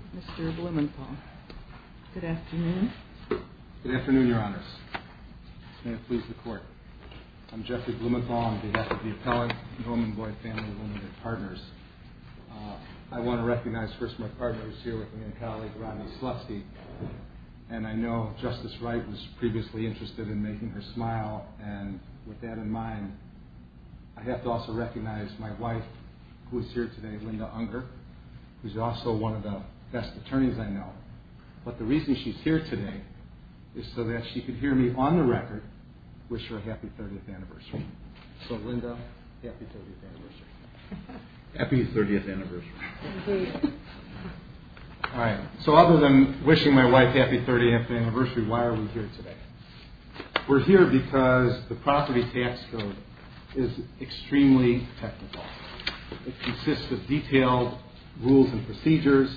Appellant Jeffery Blumenthal. Good afternoon. Good afternoon, Your Honors. May it please the Court. I'm Jeffery Blumenthal. I'm the head of the Appellant and Home Envoy Family, one of their partners. I want to recognize first my partner who's here with me, a colleague, Rodney Slutsky, and I know Justice Wright was previously interested in making her smile, and with that in mind, I have to also recognize my wife, who is here today, to wish her a happy 30th anniversary. So, Linda, happy 30th anniversary. Happy 30th anniversary. So, other than wishing my wife a happy 30th anniversary, why are we here today? We're here because the property tax code is extremely technical. It consists of detailed rules and procedures,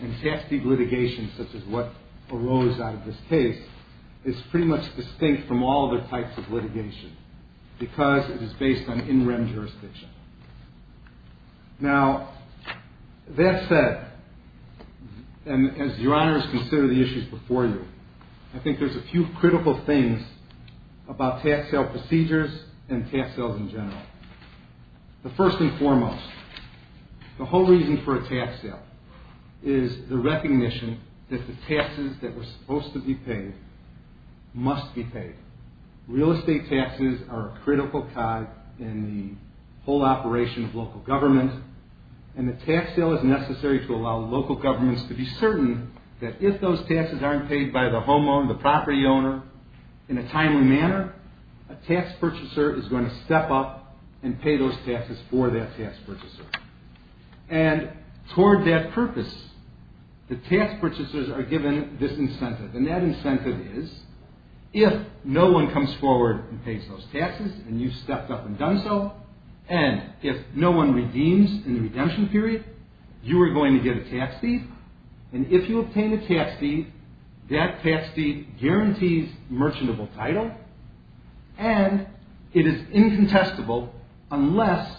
and tax-deep litigation, such as what arose out of this case, is pretty much distinct from all other types of litigation because it is based on in-rem jurisdiction. Now, that said, and as Your Honors consider the issues before you, I think there's a few critical things about tax sale procedures and tax sales in general. The first and foremost, the whole reason for a tax sale is the recognition that the taxes that were supposed to be paid must be paid. Real estate taxes are a critical tie in the whole operation of local government, and the tax sale is necessary to allow local governments to be certain that if those taxes aren't paid by the homeowner, the property owner, in a timely manner, a tax purchaser is going to step up and pay those taxes for that tax purchaser. And toward that purpose, the tax purchasers are given this incentive, and that incentive is if no one comes forward and pays those taxes, and you've stepped up and done so, and if no one redeems in the redemption period, you are going to get a tax deed, and if you obtain a tax deed, that tax deed guarantees merchantable title, and it is incontestable unless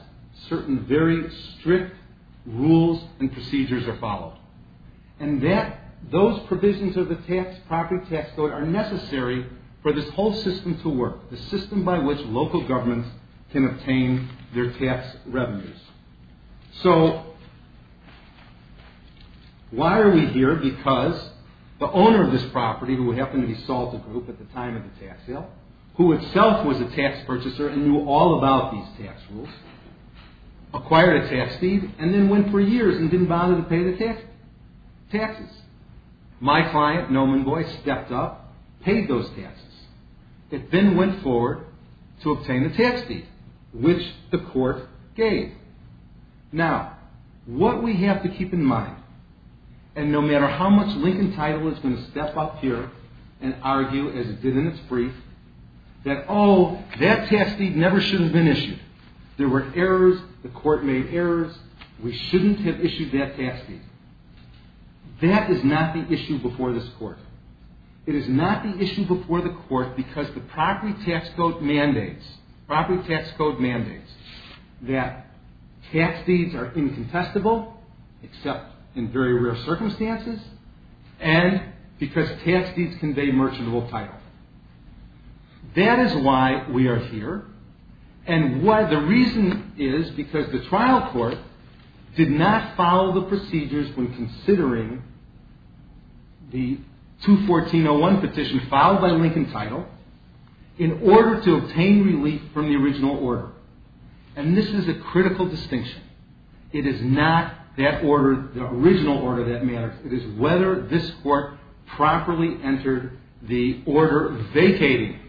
certain very strict rules and procedures are followed. And those provisions of the property tax code are necessary for this whole system to work, the system by which local governments can obtain their tax revenues. So, why are we here? Because the owner of this property, who happened to be Salter Group at the time of the tax sale, who itself was a tax purchaser and knew all about these tax rules, acquired a tax deed and then went for years and didn't bother to pay the taxes. My client, Noman Boy, stepped up, paid those taxes, and then went forward to obtain a tax deed, which the court gave. Now, what we have to keep in mind, and no matter how much Lincoln Title is going to step up here and argue, as it did in its brief, that, oh, that tax deed never should have been issued. There were errors. The court made errors. We shouldn't have issued that tax deed. That is not the issue before this court. It is not the issue before the court because the property tax code mandates that tax deeds are incontestable, except in very rare circumstances, and because tax deeds convey merchantable title. That is why we are here, and the reason is because the trial court did not follow the procedures when considering the 214.01 petition filed by Lincoln Title in order to obtain relief from the original order. And this is a critical distinction. It is not that order, the original order that matters. It is whether this court properly entered the order vacating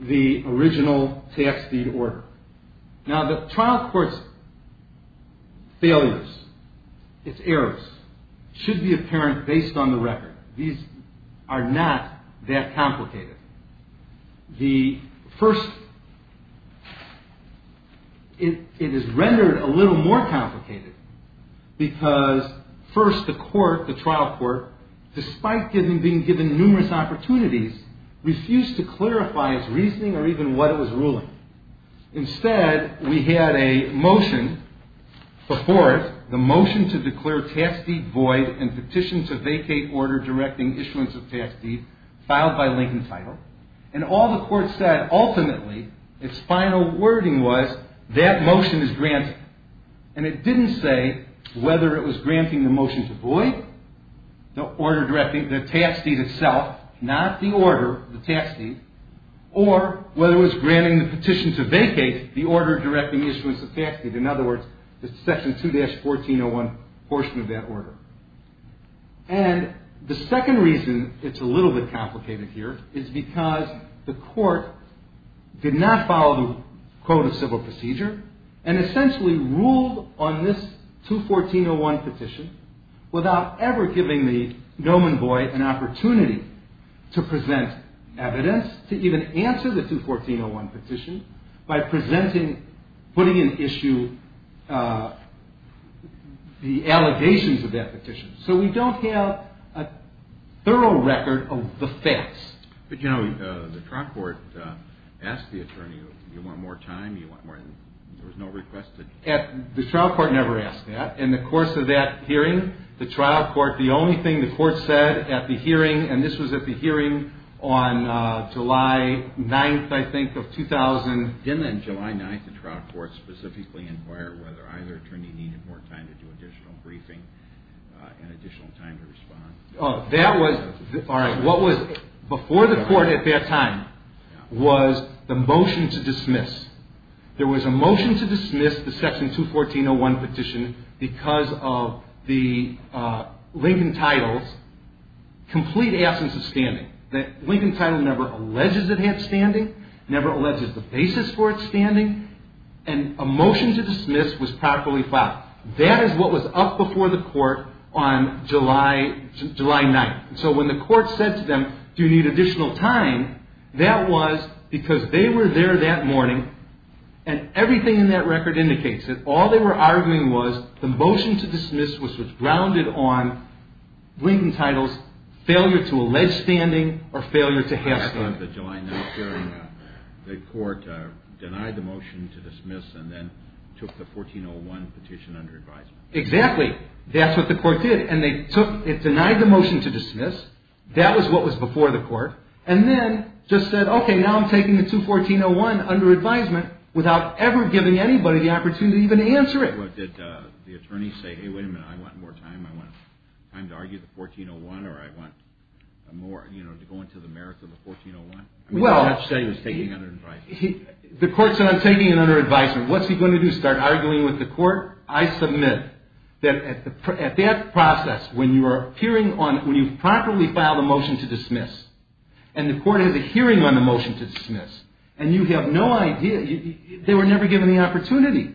the original tax deed order. Now, the trial court's failures, its errors, should be apparent based on the record. These are not that complicated. It is rendered a little more complicated because, first, the trial court, despite being given numerous opportunities, refused to clarify its reasoning or even what it was ruling. Instead, we had a motion before it, the motion to declare tax deed void and petition to vacate order directing issuance of tax deed filed by Lincoln Title, and all the court said ultimately, its final wording was, that motion is granted. And it didn't say whether it was granting the motion to void, the order directing the tax deed itself, not the order, the tax deed, or whether it was granting the petition to vacate the order directing issuance of tax deed, in other words, the section 2-1401 portion of that order. And the second reason it's a little bit complicated here is because the court did not follow the code of civil procedure and essentially ruled on this 2-1401 petition without ever giving the gnomon boy an opportunity to present evidence, to even answer the 2-1401 petition by presenting, putting in issue the allegations of that petition. So we don't have a thorough record of the facts. But, you know, the trial court asked the attorney, you want more time, you want more than, there was no request to... The trial court never asked that. In the course of that hearing, the trial court, the only thing the court said at the hearing, and this was at the hearing on July 9th, I think, of 2000... That was, all right, what was before the court at that time was the motion to dismiss. There was a motion to dismiss the section 2-1401 petition because of the Lincoln title's complete absence of standing. The Lincoln title never alleges it had standing, never alleges the basis for its standing, and a motion to dismiss was properly filed. That is what was up before the court on July 9th. So when the court said to them, do you need additional time, that was because they were there that morning and everything in that record indicates it. All they were arguing was the motion to dismiss was grounded on Lincoln title's failure to allege standing or failure to have standing. On the July 9th hearing, the court denied the motion to dismiss and then took the 1401 petition under advisement. Exactly, that's what the court did, and they took, it denied the motion to dismiss, that was what was before the court, and then just said, okay, now I'm taking the 2-1401 under advisement without ever giving anybody the opportunity to even answer it. Did the attorneys say, hey, wait a minute, I want more time, I want time to argue the 1401, or I want more, you know, to go into the merits of the 1401? Well, the court said I'm taking it under advisement. What's he going to do, start arguing with the court? I submit that at that process, when you are appearing on, when you've properly filed a motion to dismiss, and the court has a hearing on the motion to dismiss, and you have no idea, they were never given the opportunity.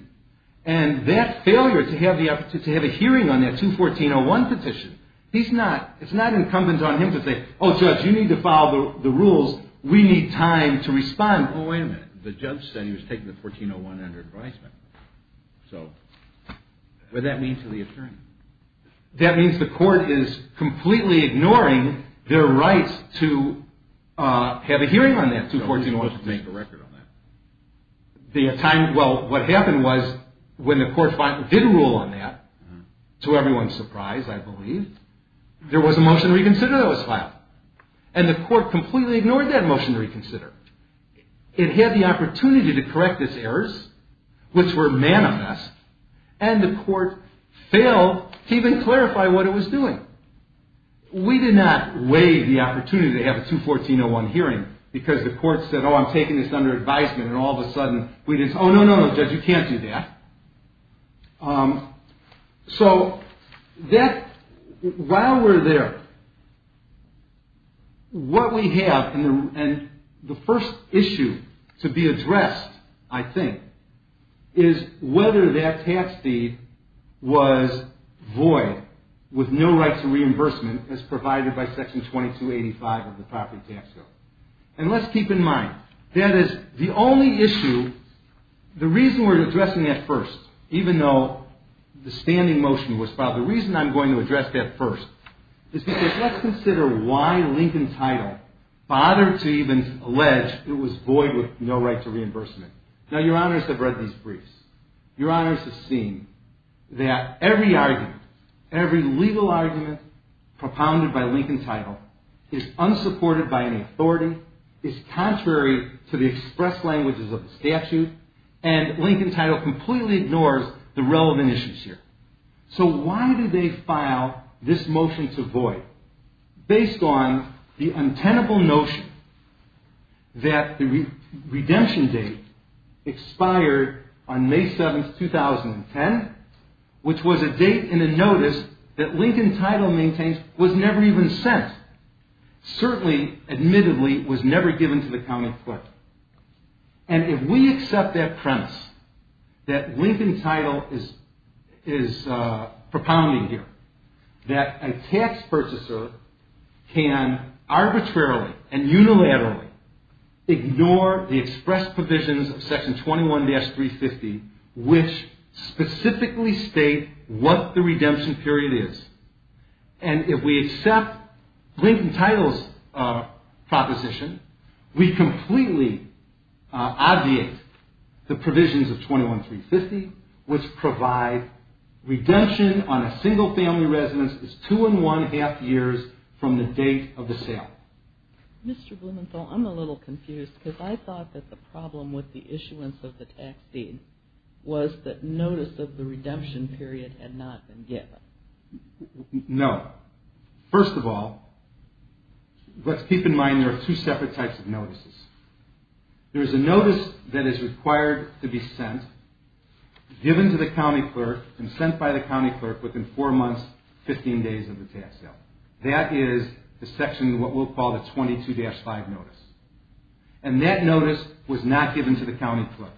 And that failure to have the opportunity to have a hearing on that 2-1401 petition, he's not, it's not incumbent on him to say, oh, judge, you need to follow the rules, we need time to respond. Oh, wait a minute, the judge said he was taking the 1401 under advisement. So, what'd that mean to the attorney? That means the court is completely ignoring their rights to have a hearing on that 2-1401 petition. So who's supposed to make a record on that? The time, well, what happened was, when the court finally did rule on that, to everyone's surprise, I believe, there was a motion to reconsider that was filed. And the court completely ignored that motion to reconsider. It had the opportunity to correct its errors, which were manamess, and the court failed to even clarify what it was doing. We did not waive the opportunity to have a 2-1401 hearing, because the court said, oh, I'm taking this under advisement, and all of a sudden, we just, oh, no, no, no, judge, you can't do that. So that, while we're there, what we have, and the first issue to be addressed, I think, is whether that tax deed was void, with no rights to reimbursement, as provided by Section 2285 of the Property Tax Code. And let's keep in mind, that is, the only issue, the reason we're addressing that first, even though the standing motion was filed, the reason I'm going to address that first, is because let's consider why Lincoln Title bothered to even allege it was void with no right to reimbursement. Now, Your Honors have read these briefs. Your Honors have seen that every argument, every legal argument propounded by Lincoln Title, is unsupported by any authority, is contrary to the express languages of the statute, and Lincoln Title completely ignores the relevant issues here. So why did they file this motion to void? Based on the untenable notion that the redemption date expired on May 7, 2010, which was a date in a notice that Lincoln Title maintains was never even sent. Certainly, admittedly, it was never given to the county court. And if we accept that premise that Lincoln Title is propounding here, that a tax purchaser can arbitrarily and unilaterally ignore the express provisions of Section 21-350, which specifically state what the redemption period is, and if we accept Lincoln Title's proposition, we completely obviate the provisions of 21-350, which provide redemption on a single family residence is two and one-half years from the date of the sale. Mr. Blumenthal, I'm a little confused because I thought that the problem with the issuance of the tax deed was that notice of the redemption period had not been given. No. First of all, let's keep in mind there are two separate types of notices. There is a notice that is required to be sent, given to the county clerk, and sent by the county clerk within four months, 15 days of the tax sale. That is the section, what we'll call the 22-5 notice. And that notice was not given to the county clerk.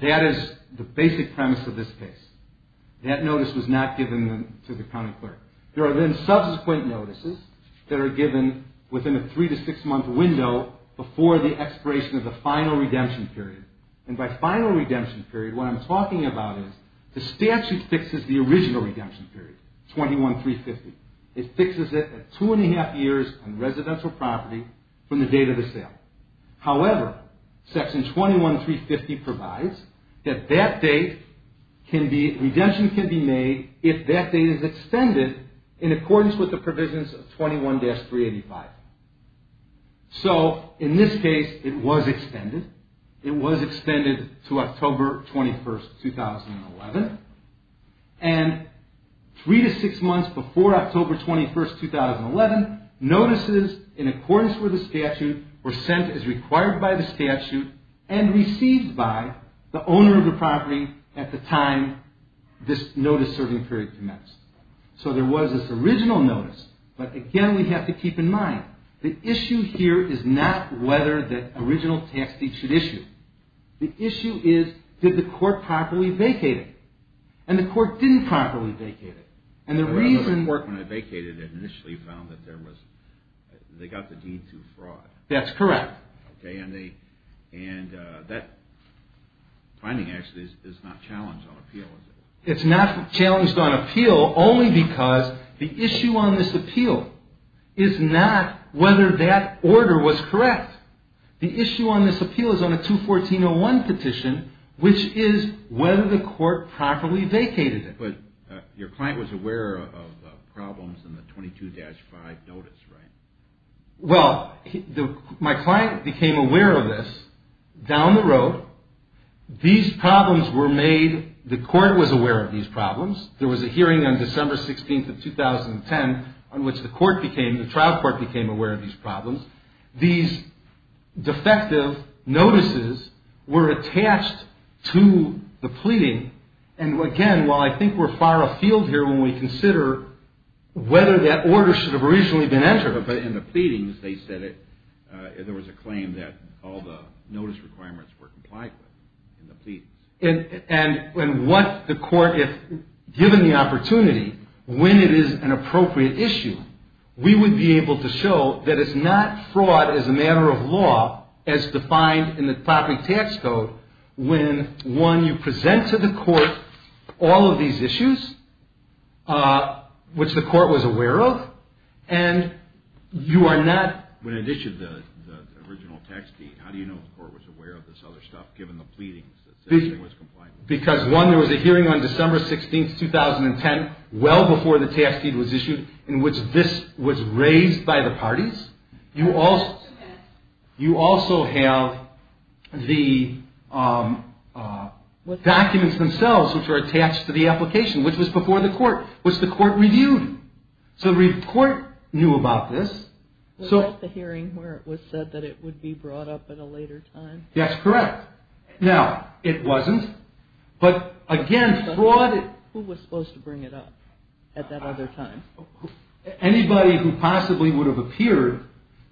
That is the basic premise of this case. That notice was not given to the county clerk. There are then subsequent notices that are given within a three- to six-month window before the expiration of the final redemption period. And by final redemption period, what I'm talking about is the statute fixes the original redemption period, 21-350. It fixes it at two and a half years on residential property from the date of the sale. However, section 21-350 provides that that date can be, redemption can be made if that date is extended in accordance with the provisions of 21-385. So, in this case, it was extended. It was extended to October 21, 2011. And three to six months before October 21, 2011, notices in accordance with the statute were sent as required by the statute and received by the owner of the property at the time this notice-serving period commenced. So, there was this original notice. But, again, we have to keep in mind, the issue here is not whether the original tax deed should issue. The issue is, did the court properly vacate it? And the court didn't properly vacate it. The court, when it vacated it, initially found that there was, they got the deed to fraud. That's correct. Okay, and that finding actually is not challenged on appeal, is it? It's not challenged on appeal only because the issue on this appeal is not whether that order was correct. The issue on this appeal is on a 214-01 petition, which is whether the court properly vacated it. But your client was aware of problems in the 22-5 notice, right? Well, my client became aware of this. Down the road, these problems were made, the court was aware of these problems. There was a hearing on December 16, 2010, on which the trial court became aware of these problems. And, again, while I think we're far afield here when we consider whether that order should have originally been entered. But in the pleadings, they said it, there was a claim that all the notice requirements were complied with in the pleadings. And what the court, if given the opportunity, when it is an appropriate issue, we would be able to show that it's not fraud as a matter of law, as defined in the public tax code, when, one, you present to the court all of these issues, which the court was aware of, and you are not. When it issued the original tax deed, how do you know the court was aware of this other stuff, given the pleadings? Because, one, there was a hearing on December 16, 2010, well before the tax deed was issued, in which this was raised by the parties. You also have the documents themselves, which are attached to the application, which was before the court, which the court reviewed. So the court knew about this. Was that the hearing where it was said that it would be brought up at a later time? That's correct. Now, it wasn't. But, again, fraud... Who was supposed to bring it up at that other time? Anybody who possibly would have appeared,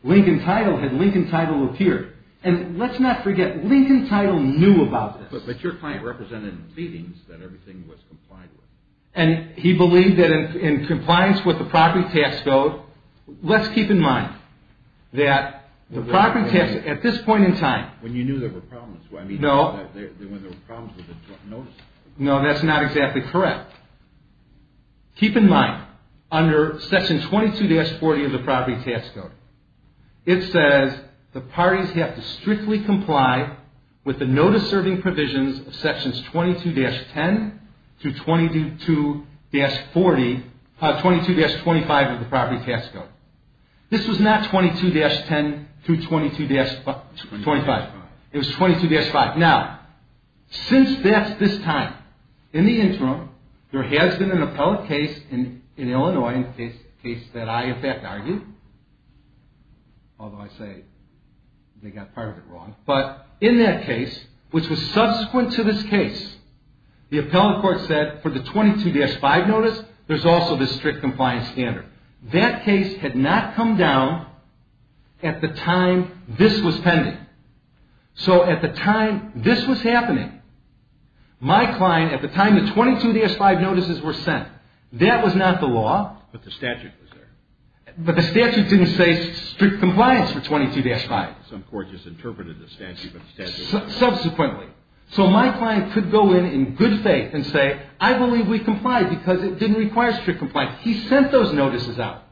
Lincoln Title, had Lincoln Title appeared. And let's not forget, Lincoln Title knew about this. But your client represented in the pleadings that everything was complied with. And he believed that in compliance with the property tax code... Let's keep in mind that the property tax, at this point in time... When you knew there were problems. No. When there were problems with the notice. No, that's not exactly correct. Keep in mind, under section 22-40 of the property tax code, it says, the parties have to strictly comply with the notice-serving provisions of sections 22-10 through 22-40... 22-25 of the property tax code. This was not 22-10 through 22-25. It was 22-5. Now, since that's this time... In the interim, there has been an appellate case in Illinois, a case that I, in fact, argued. Although, I say they got part of it wrong. But, in that case, which was subsequent to this case, the appellate court said, for the 22-5 notice, there's also this strict compliance standard. That case had not come down at the time this was pending. So, at the time this was happening, my client, at the time the 22-5 notices were sent, that was not the law. But the statute was there. But the statute didn't say strict compliance for 22-5. Some court just interpreted the statute. Subsequently. So, my client could go in in good faith and say, I believe we complied because it didn't require strict compliance. He sent those notices out.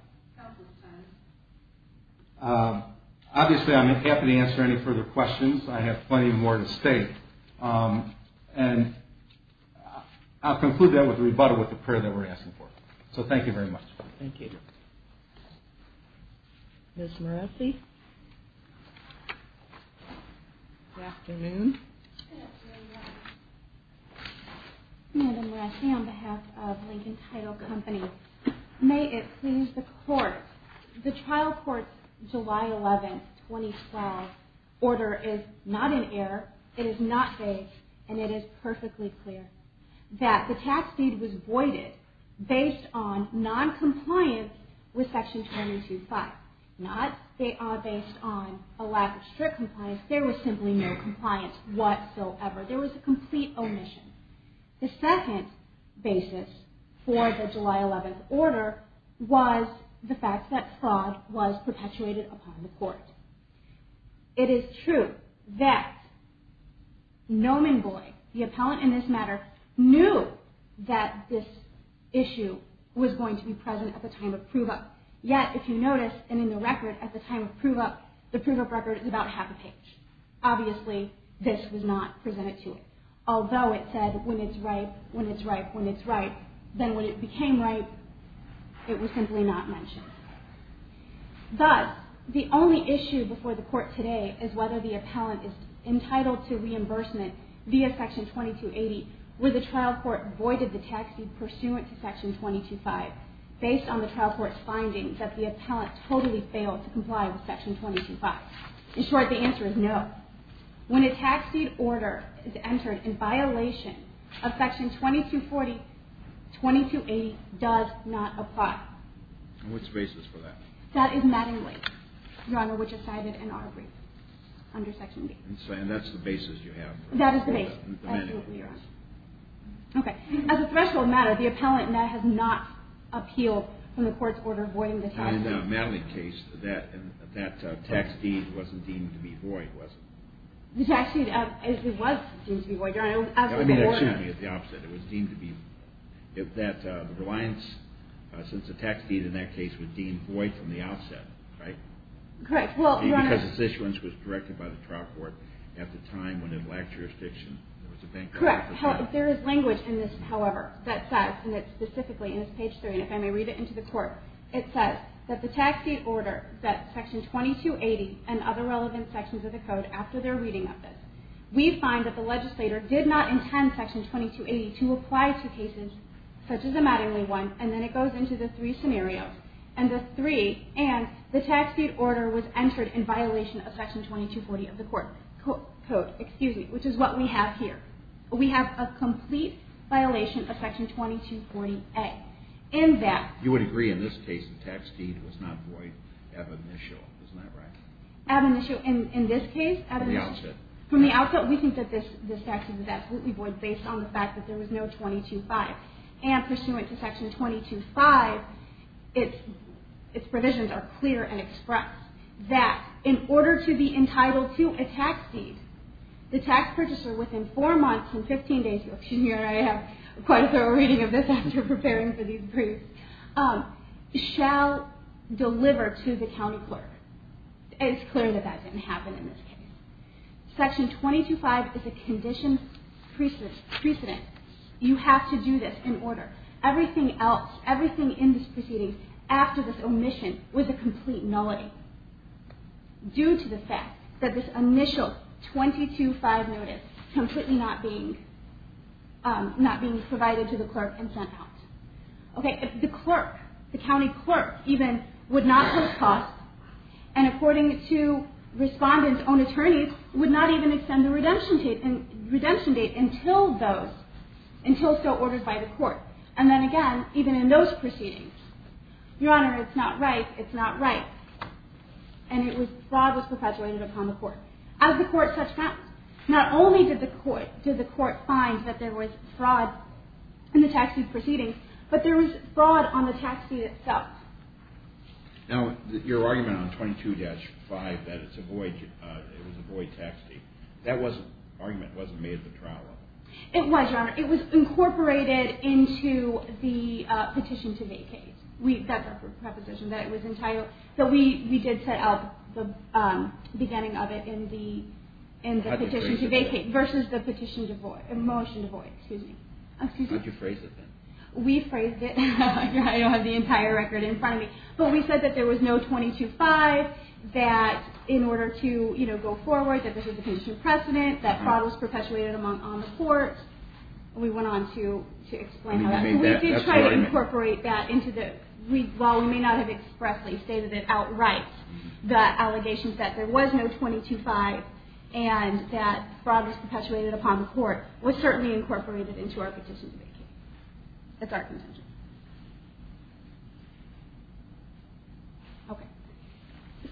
Obviously, I'm happy to answer any further questions. I have plenty more to state. And, I'll conclude that with a rebuttal with the prayer that we're asking for. So, thank you very much. Thank you. Ms. Moretti. Good afternoon. Good afternoon. Amanda Moretti on behalf of Lincoln Title Company. May it please the Court. The trial court's July 11, 2012 order is not in error. It is not vague. And it is perfectly clear that the tax deed was voided based on noncompliance with Section 22-5. Not based on a lack of strict compliance. There was simply no compliance whatsoever. There was a complete omission. The second basis for the July 11 order was the fact that fraud was perpetuated upon the Court. It is true that Nomenvoy, the appellant in this matter, knew that this issue was going to be present at the time of prove up. Yet, if you notice, and in the record, at the time of prove up, the prove up record is about half a page. Obviously, this was not presented to it. Although it said, when it's right, when it's right, when it's right, then when it became right, it was simply not mentioned. Thus, the only issue before the Court today is whether the appellant is entitled to reimbursement via Section 22-80 where the trial court voided the tax deed pursuant to Section 22-5 based on the trial court's findings that the appellant totally failed to comply with Section 22-5. In short, the answer is no. When a tax deed order is entered in violation of Section 22-40, 22-80 does not apply. And what's the basis for that? That is Mattingly, Your Honor, which is cited in our brief under Section B. And that's the basis you have? That is the basis. That is what we are on. Okay. As a threshold matter, the appellant now has not appealed from the Court's order voiding the tax deed. In the Mattingly case, that tax deed wasn't deemed to be void, was it? The tax deed actually was deemed to be void, Your Honor. Let me ask you something. It was the opposite. It was deemed to be void. The reliance since the tax deed in that case was deemed void from the outset, right? Correct. Because its issuance was directed by the trial court at the time when it lacked jurisdiction. Correct. There is language in this, however, that says, and it's specifically in this page 3, and if I may read it into the Court, it says that the tax deed order that Section 2280 and other relevant sections of the Code, after their reading of this, we find that the legislator did not intend Section 2280 to apply to cases such as the Mattingly one, and then it goes into the three scenarios. And the three, and the tax deed order was entered in violation of Section 2240 of the Code, which is what we have here. We have a complete violation of Section 2240A. You would agree in this case the tax deed was not void ab initio. Isn't that right? Ab initio. In this case, ab initio. From the outset. From the outset, we think that this tax deed was absolutely void based on the fact that there was no 22-5. And pursuant to Section 22-5, its provisions are clear and express that in order to be entitled to a tax deed, the tax purchaser within four months and 15 days, here I have quite a thorough reading of this after preparing for these briefs, shall deliver to the county clerk. It is clear that that didn't happen in this case. Section 22-5 is a condition precedent. You have to do this in order. Everything else, everything in this proceeding after this omission was a complete nullity. Due to the fact that this initial 22-5 notice, completely not being provided to the clerk and sent out. Okay. The clerk, the county clerk even, would not post costs and according to Respondent's own attorneys, would not even extend the redemption date until those, until so ordered by the court. And then again, even in those proceedings. Your Honor, it's not right, it's not right. And it was, fraud was perpetuated upon the court. As the court such found, not only did the court, did the court find that there was fraud in the tax deed proceeding, but there was fraud on the tax deed itself. Now, your argument on 22-5 that it's a void, it was a void tax deed, that wasn't, argument wasn't made at the trial level. It was, Your Honor. It was incorporated into the petition to vacate. We, that's our preposition, that it was entirely, that we did set up the beginning of it in the petition to vacate. How did you phrase it? Versus the petition to void, motion to void, excuse me. How did you phrase it then? We phrased it. I don't have the entire record in front of me. But we said that there was no 22-5, that in order to, you know, go forward, that this was a condition of precedent, that fraud was perpetuated on the court. We went on to explain how that, we did try to incorporate that into the, while we may not have expressly stated it outright, the allegations that there was no 22-5 and that fraud was perpetuated upon the court was certainly incorporated into our petition to vacate. That's our contention. Okay.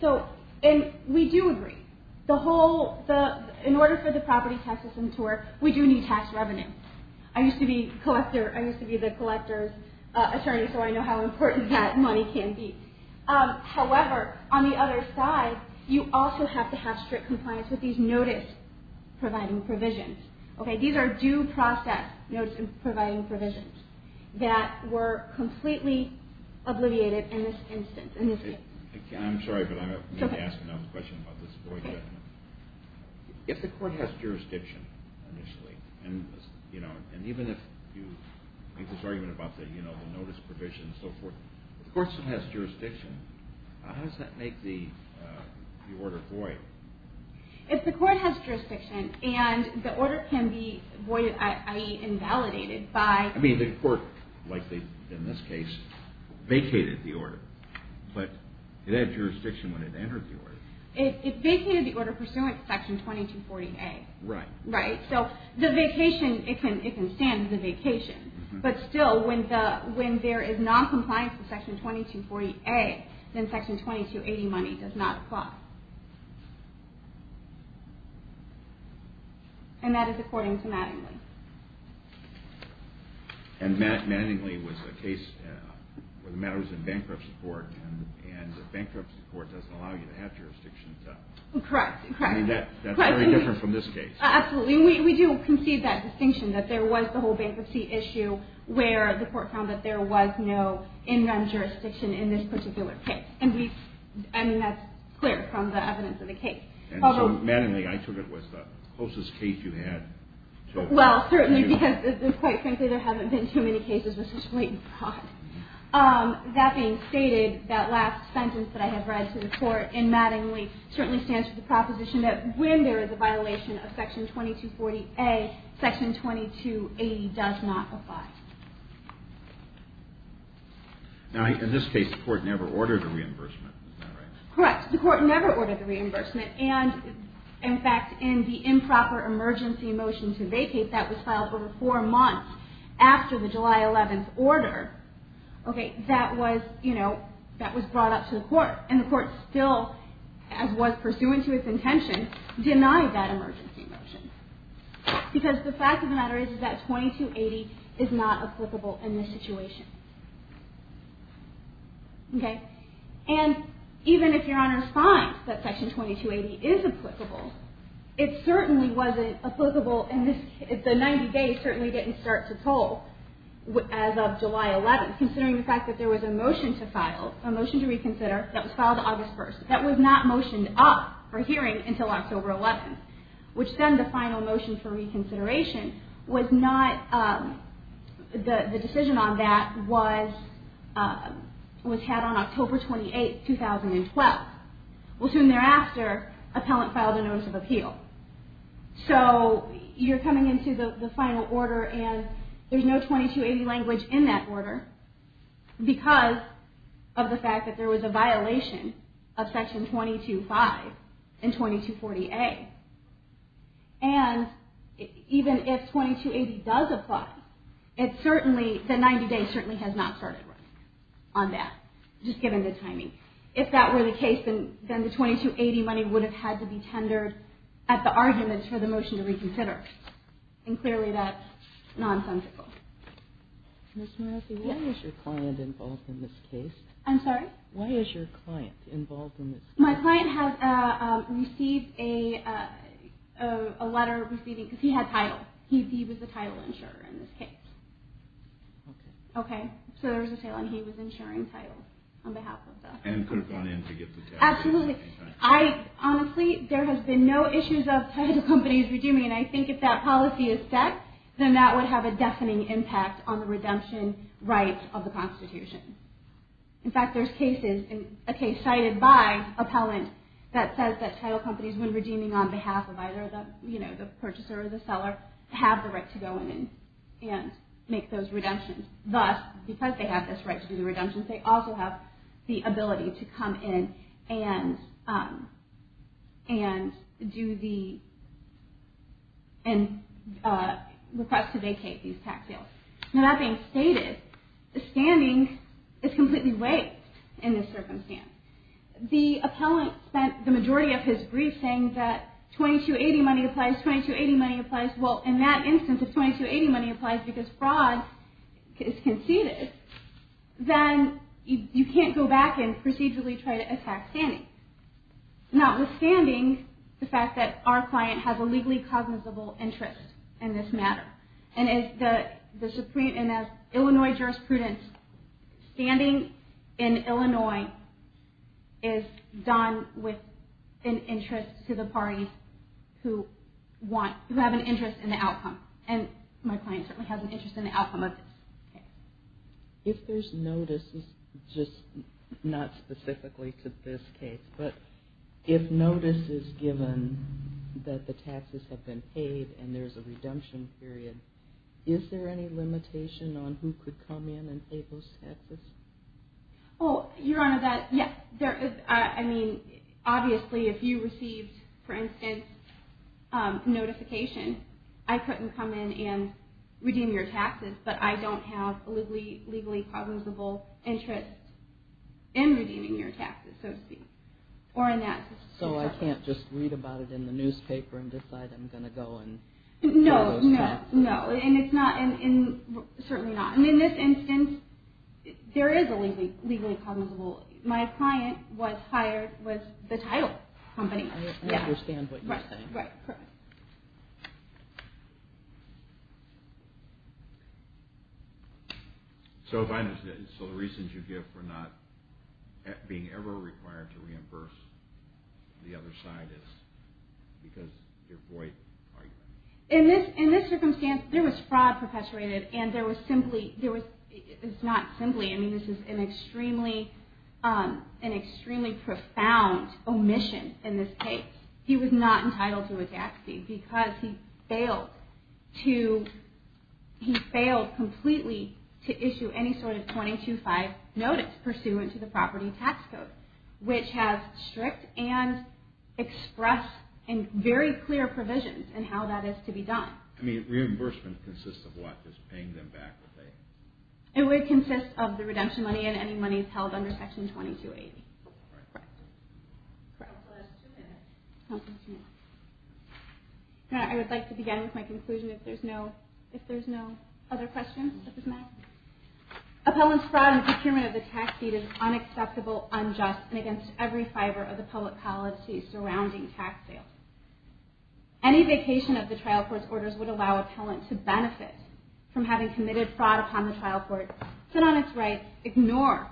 So, and we do agree. The whole, in order for the property tax system to work, we do need tax revenue. I used to be collector, I used to be the collector's attorney, so I know how important that money can be. However, on the other side, you also have to have strict compliance with these notice-providing provisions. Okay. These are due process notice-providing provisions that were completely obliviated in this instance, in this case. I'm sorry, but I'm going to ask another question about this void judgment. If the court has jurisdiction initially, and even if you make this argument about the notice provision and so forth, if the court still has jurisdiction, how does that make the order void? If the court has jurisdiction and the order can be voided, i.e. invalidated by... I mean, the court, like in this case, vacated the order, but it had jurisdiction when it entered the order. It vacated the order pursuant to Section 2240A. Right. Right. So, the vacation, it can stand as a vacation. But still, when there is noncompliance with Section 2240A, then Section 2280 money does not apply. And that is according to Mattingly. And Mattingly was a case where the matter was in bankruptcy court, and the bankruptcy court doesn't allow you to have jurisdiction. Correct. I mean, that's very different from this case. Absolutely. We do concede that distinction, that there was the whole bankruptcy issue where the court found that there was no in-run jurisdiction in this particular case. And that's clear from the evidence in the case. And so, Mattingly, I took it was the closest case you had to a... Well, certainly, because, quite frankly, there haven't been too many cases with such blatant fraud. That being stated, that last sentence that I have read to the court in Mattingly certainly stands for the proposition that when there is a violation of Section 2240A, Section 2280 does not apply. Now, in this case, the court never ordered the reimbursement. Is that right? Correct. The court never ordered the reimbursement. And, in fact, in the improper emergency motion to vacate that was filed over four months after the July 11th order, that was brought up to the court. And the court still, as was pursuant to its intention, denied that emergency motion. Because the fact of the matter is that 2280 is not applicable in this situation. Okay? And even if Your Honor's finds that Section 2280 is applicable, it certainly wasn't applicable in this case. The 90 days certainly didn't start to toll as of July 11th, considering the fact that there was a motion to file, a motion to reconsider, that was filed August 1st, that was not motioned up for hearing until October 11th, which then the final motion for reconsideration was not... The decision on that was had on October 28th, 2012. Well, soon thereafter, appellant filed a notice of appeal. So you're coming into the final order and there's no 2280 language in that order because of the fact that there was a violation of Section 225 in 2240A. And even if 2280 does apply, it certainly, the 90 days certainly has not started running on that, just given the timing. If that were the case, then the 2280 money would have had to be tendered at the arguments for the motion to reconsider. And clearly that's nonsensical. Ms. Murathy, why is your client involved in this case? I'm sorry? Why is your client involved in this case? My client has received a letter, because he had title. He was the title insurer in this case. Okay. So there was a title and he was insuring title on behalf of the... And could have gone in to get the title. Absolutely. Honestly, there has been no issues of title companies redeeming, and I think if that policy is set, then that would have a deafening impact on the redemption rights of the Constitution. In fact, there's cases, a case cited by appellant, that says that title companies, when redeeming on behalf of either the, you know, the purchaser or the seller, have the right to go in and make those redemptions. Thus, because they have this right to do the redemptions, they also have the ability to come in and request to vacate these tax deals. Now, that being stated, the standing is completely waived in this circumstance. The appellant spent the majority of his brief saying that 2280 money applies, 2280 money applies. Well, in that instance, if 2280 money applies because fraud is conceded, then you can't go back and procedurally try to attack standing, notwithstanding the fact that our client has a legally cognizable interest in this matter. And as the Supreme, and as Illinois jurisprudence, standing in Illinois is done with an interest to the parties who want, who have an interest in the outcome. And my client certainly has an interest in the outcome of this case. If there's notices, just not specifically to this case, but if notice is given that the taxes have been paid and there's a redemption period, is there any limitation on who could come in and pay those taxes? Oh, Your Honor, yes. I mean, obviously, if you received, for instance, notification, I couldn't come in and redeem your taxes, but I don't have a legally cognizable interest in redeeming your taxes, so to speak. Or in that instance. So I can't just read about it in the newspaper and decide I'm going to go and pay those taxes? No, no, no. And it's not, and certainly not. And in this instance, there is a legally cognizable, my client was hired with the title company. I understand what you're saying. Right, correct. So if I understand, so the reasons you give for not being ever required to reimburse the other side is because you're void? In this circumstance, there was fraud perpetrated, and there was simply, it's not simply, I mean, this is an extremely profound omission in this case. He was not entitled to a tax fee because he failed to, he failed completely to issue any sort of 22-5 notice pursuant to the property tax code, which has strict and express and very clear provisions in how that is to be done. I mean, reimbursement consists of what? Just paying them back? It would consist of the redemption money and any money held under Section 2280. Correct. We have two minutes. I would like to begin with my conclusion, if there's no other questions. Appellant's fraud and procurement of the tax deed is unacceptable, unjust, and against every fiber of the public policy surrounding tax sales. Any vacation of the trial court's orders would allow an appellant to benefit from having committed fraud upon the trial court, sit on its rights, ignore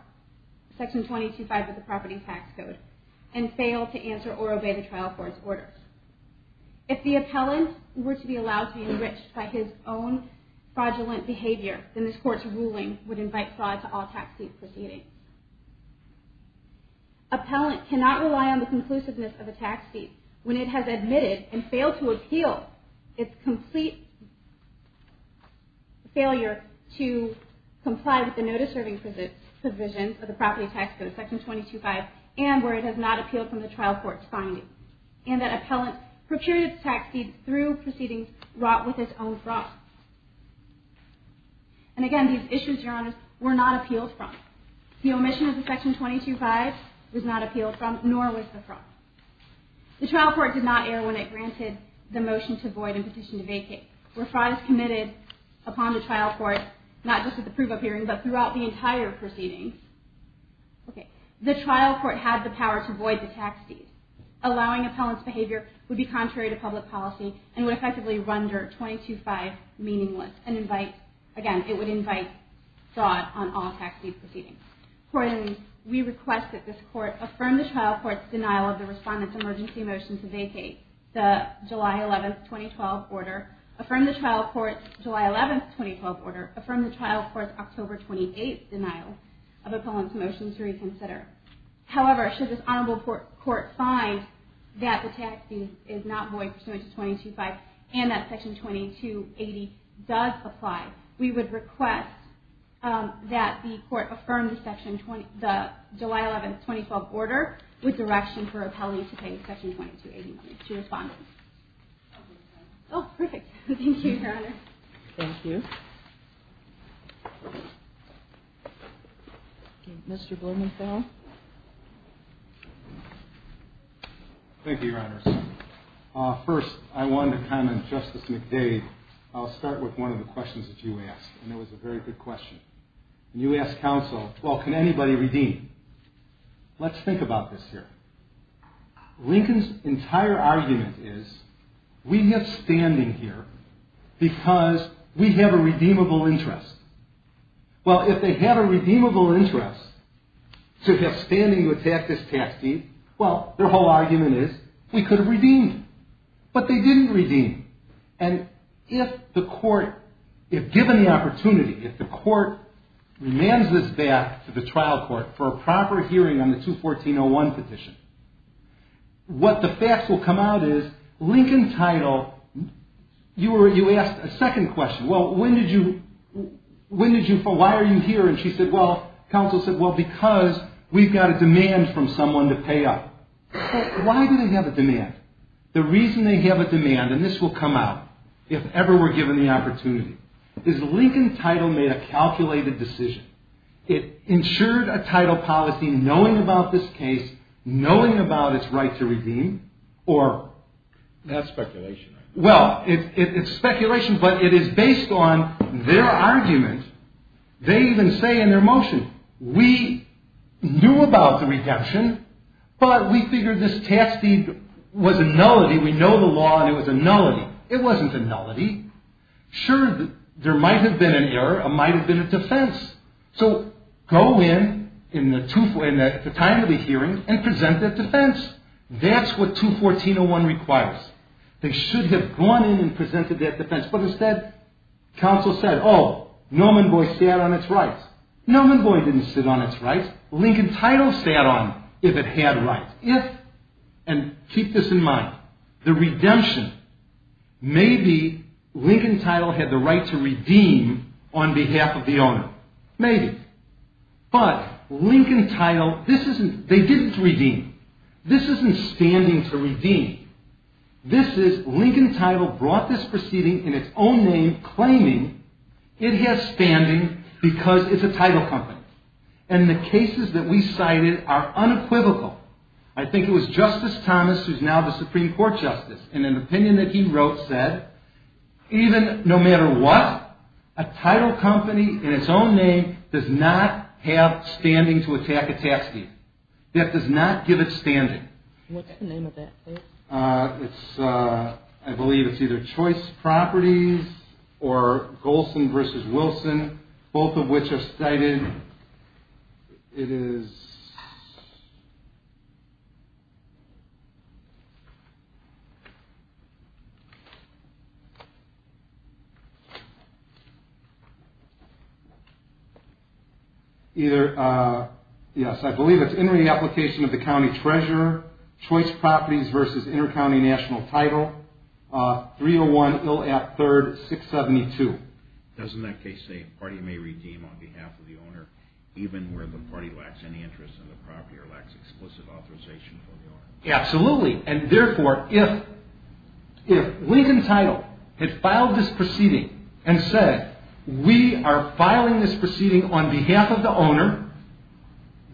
Section 22-5 of the property tax code, and fail to answer or obey the trial court's orders. If the appellant were to be allowed to be enriched by his own fraudulent behavior, then this Court's ruling would invite fraud to all tax deed proceedings. Appellant cannot rely on the conclusiveness of a tax deed when it has admitted and failed to appeal its complete failure to comply with the notice-serving provision of the property tax code, Section 22-5, and where it has not appealed from the trial court's findings. And that appellant procured its tax deed through proceedings wrought with its own fraud. And again, these issues, Your Honors, were not appealed from. The omission of the Section 22-5 was not appealed from, nor was the fraud. The trial court did not err when it granted the motion to void and petition to vacate. Where fraud is committed upon the trial court, not just at the proof of hearing, but throughout the entire proceedings, the trial court had the power to void the tax deed. Allowing appellant's behavior would be contrary to public policy and would effectively render 22-5 meaningless. And again, it would invite fraud on all tax deed proceedings. We request that this court affirm the trial court's denial of the respondent's emergency motion to vacate, the July 11, 2012, order. Affirm the trial court's July 11, 2012, order. Affirm the trial court's October 28th denial of appellant's motion to reconsider. However, should this honorable court find that the tax deed is not void pursuant to 22-5 and that Section 22-80 does apply, we would request that the court affirm the July 11, 2012, order with direction for appellee to pay Section 22-80 to respondent. Oh, perfect. Thank you, Your Honor. Thank you. Mr. Blumenfeld. Thank you, Your Honor. First, I wanted to comment, Justice McDade, I'll start with one of the questions that you asked, and it was a very good question. You asked counsel, well, can anybody redeem? Let's think about this here. Lincoln's entire argument is, we have standing here because we have a redeemable interest. Well, if they have a redeemable interest to have standing to attack this tax deed, well, their whole argument is, we could have redeemed. But they didn't redeem. And if the court, if given the opportunity, if the court demands this back to the trial court for a proper hearing on the 214-01 petition, what the facts will come out is, Lincoln title, you asked a second question. Well, when did you, why are you here? And she said, well, counsel said, well, because we've got a demand from someone to pay up. Why do they have a demand? The reason they have a demand, and this will come out if ever we're given the opportunity, is Lincoln title made a calculated decision. It ensured a title policy knowing about this case, knowing about its right to redeem, or... That's speculation. Well, it's speculation, but it is based on their argument. They even say in their motion, we knew about the redemption, but we figured this tax deed was a nullity. We know the law, and it was a nullity. It wasn't a nullity. Sure, there might have been an error. It might have been a defense. So, go in, in the time of the hearing, and present that defense. That's what 214-01 requires. They should have gone in and presented that defense. But instead, counsel said, oh, Norman Boyd sat on its rights. Norman Boyd didn't sit on its rights. Lincoln title sat on it, if it had rights. If, and keep this in mind, the redemption, maybe Lincoln title had the right to redeem on behalf of the owner. Maybe. But Lincoln title, this isn't, they didn't redeem. This isn't standing to redeem. This is, Lincoln title brought this proceeding in its own name, claiming it has standing because it's a title company. And the cases that we cited are unequivocal. I think it was Justice Thomas, who's now the Supreme Court Justice, in an opinion that he wrote, said, even, no matter what, a title company in its own name does not have standing to attack a tax deed. That does not give it standing. What's the name of that case? I believe it's either Choice Properties or Golson v. Wilson, both of which are cited. It is either, yes, I believe it's entering the application of the county treasurer, Choice Properties v. Intercounty National Title, 301 Ill Act 3rd, 672. Doesn't that case say, party may redeem on behalf of the owner, even where the party lacks any interest in the property or lacks explicit authorization from the owner? Absolutely. And therefore, if Lincoln title had filed this proceeding and said, we are filing this proceeding on behalf of the owner,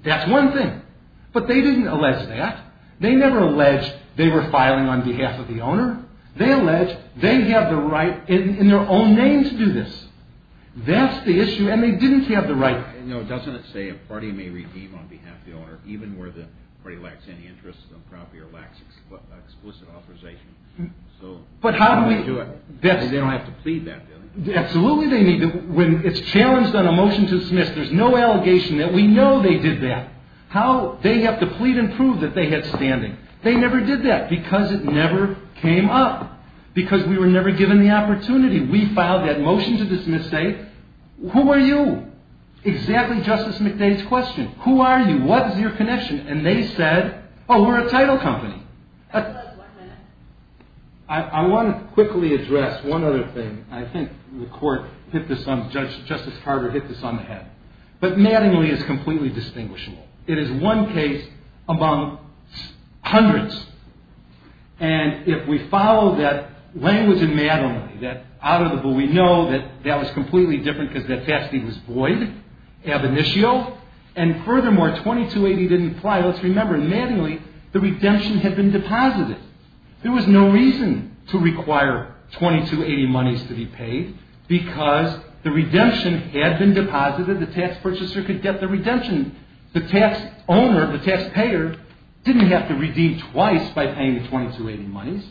that's one thing. But they didn't allege that. They never allege they were filing on behalf of the owner. They allege they have the right in their own name to do this. That's the issue, and they didn't have the right. No, doesn't it say a party may redeem on behalf of the owner, even where the party lacks any interest in the property or lacks explicit authorization? But how do we do it? They don't have to plead that, do they? Absolutely they need to. When it's challenged on a motion to dismiss, there's no allegation that we know they did that. They have to plead and prove that they had standing. They never did that because it never came up, because we were never given the opportunity. We filed that motion to dismiss, say, who are you? Exactly Justice McDade's question. Who are you? What is your connection? And they said, oh, we're a title company. I want to quickly address one other thing. I think the court hit this on, Justice Carter hit this on the head. But Mattingly is completely distinguishable. It is one case among hundreds. And if we follow that language in Mattingly, that out of the blue, we know that that was completely different because that facet was void, ab initio. And furthermore, 2280 didn't apply. Let's remember, in Mattingly, the redemption had been deposited. There was no reason to require 2280 monies to be paid because the redemption had been deposited. The tax purchaser could get the redemption. The tax owner, the tax payer, didn't have to redeem twice by paying the 2280 monies.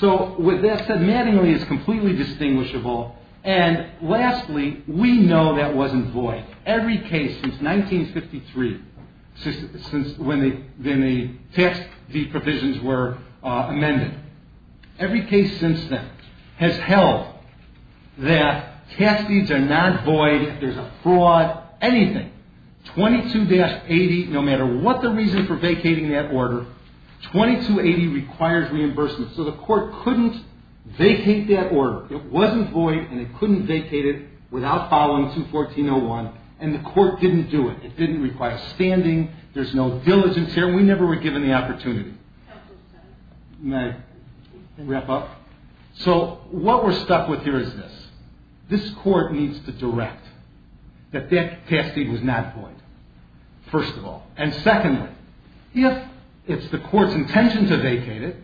So with that said, Mattingly is completely distinguishable. And lastly, we know that wasn't void. Every case since 1953, since when the tax fee provisions were amended, every case since then has held that tax fees are not void, there's a fraud, anything. 22-80, no matter what the reason for vacating that order, 2280 requires reimbursement. So the court couldn't vacate that order. It wasn't void and it couldn't vacate it without following 214-01. And the court didn't do it. It didn't require standing. There's no diligence here. We never were given the opportunity. May I wrap up? So what we're stuck with here is this. This court needs to direct that that tax fee was not void, first of all. And secondly, if it's the court's intention to vacate it,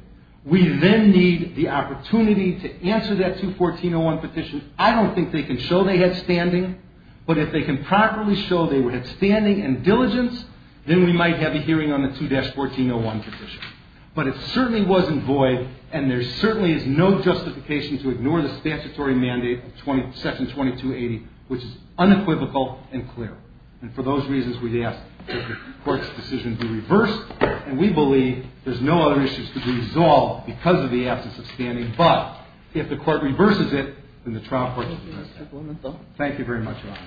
we then need the opportunity to answer that 214-01 petition. I don't think they can show they had standing, but if they can properly show they had standing and diligence, then we might have a hearing on the 2-1401 petition. But it certainly wasn't void, and there certainly is no justification to ignore the statutory mandate of Section 2280, which is unequivocal and clear. And for those reasons, we ask that the court's decision be reversed, and we believe there's no other issues to be resolved because of the absence of standing. But if the court reverses it, then the trial court should be arrested. Thank you very much, Your Honor.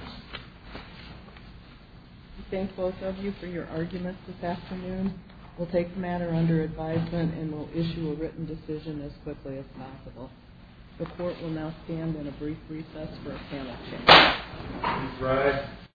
We thank both of you for your arguments this afternoon. We'll take the matter under advisement, and we'll issue a written decision as quickly as possible. The court will now stand on a brief recess for a panel change. Please rise.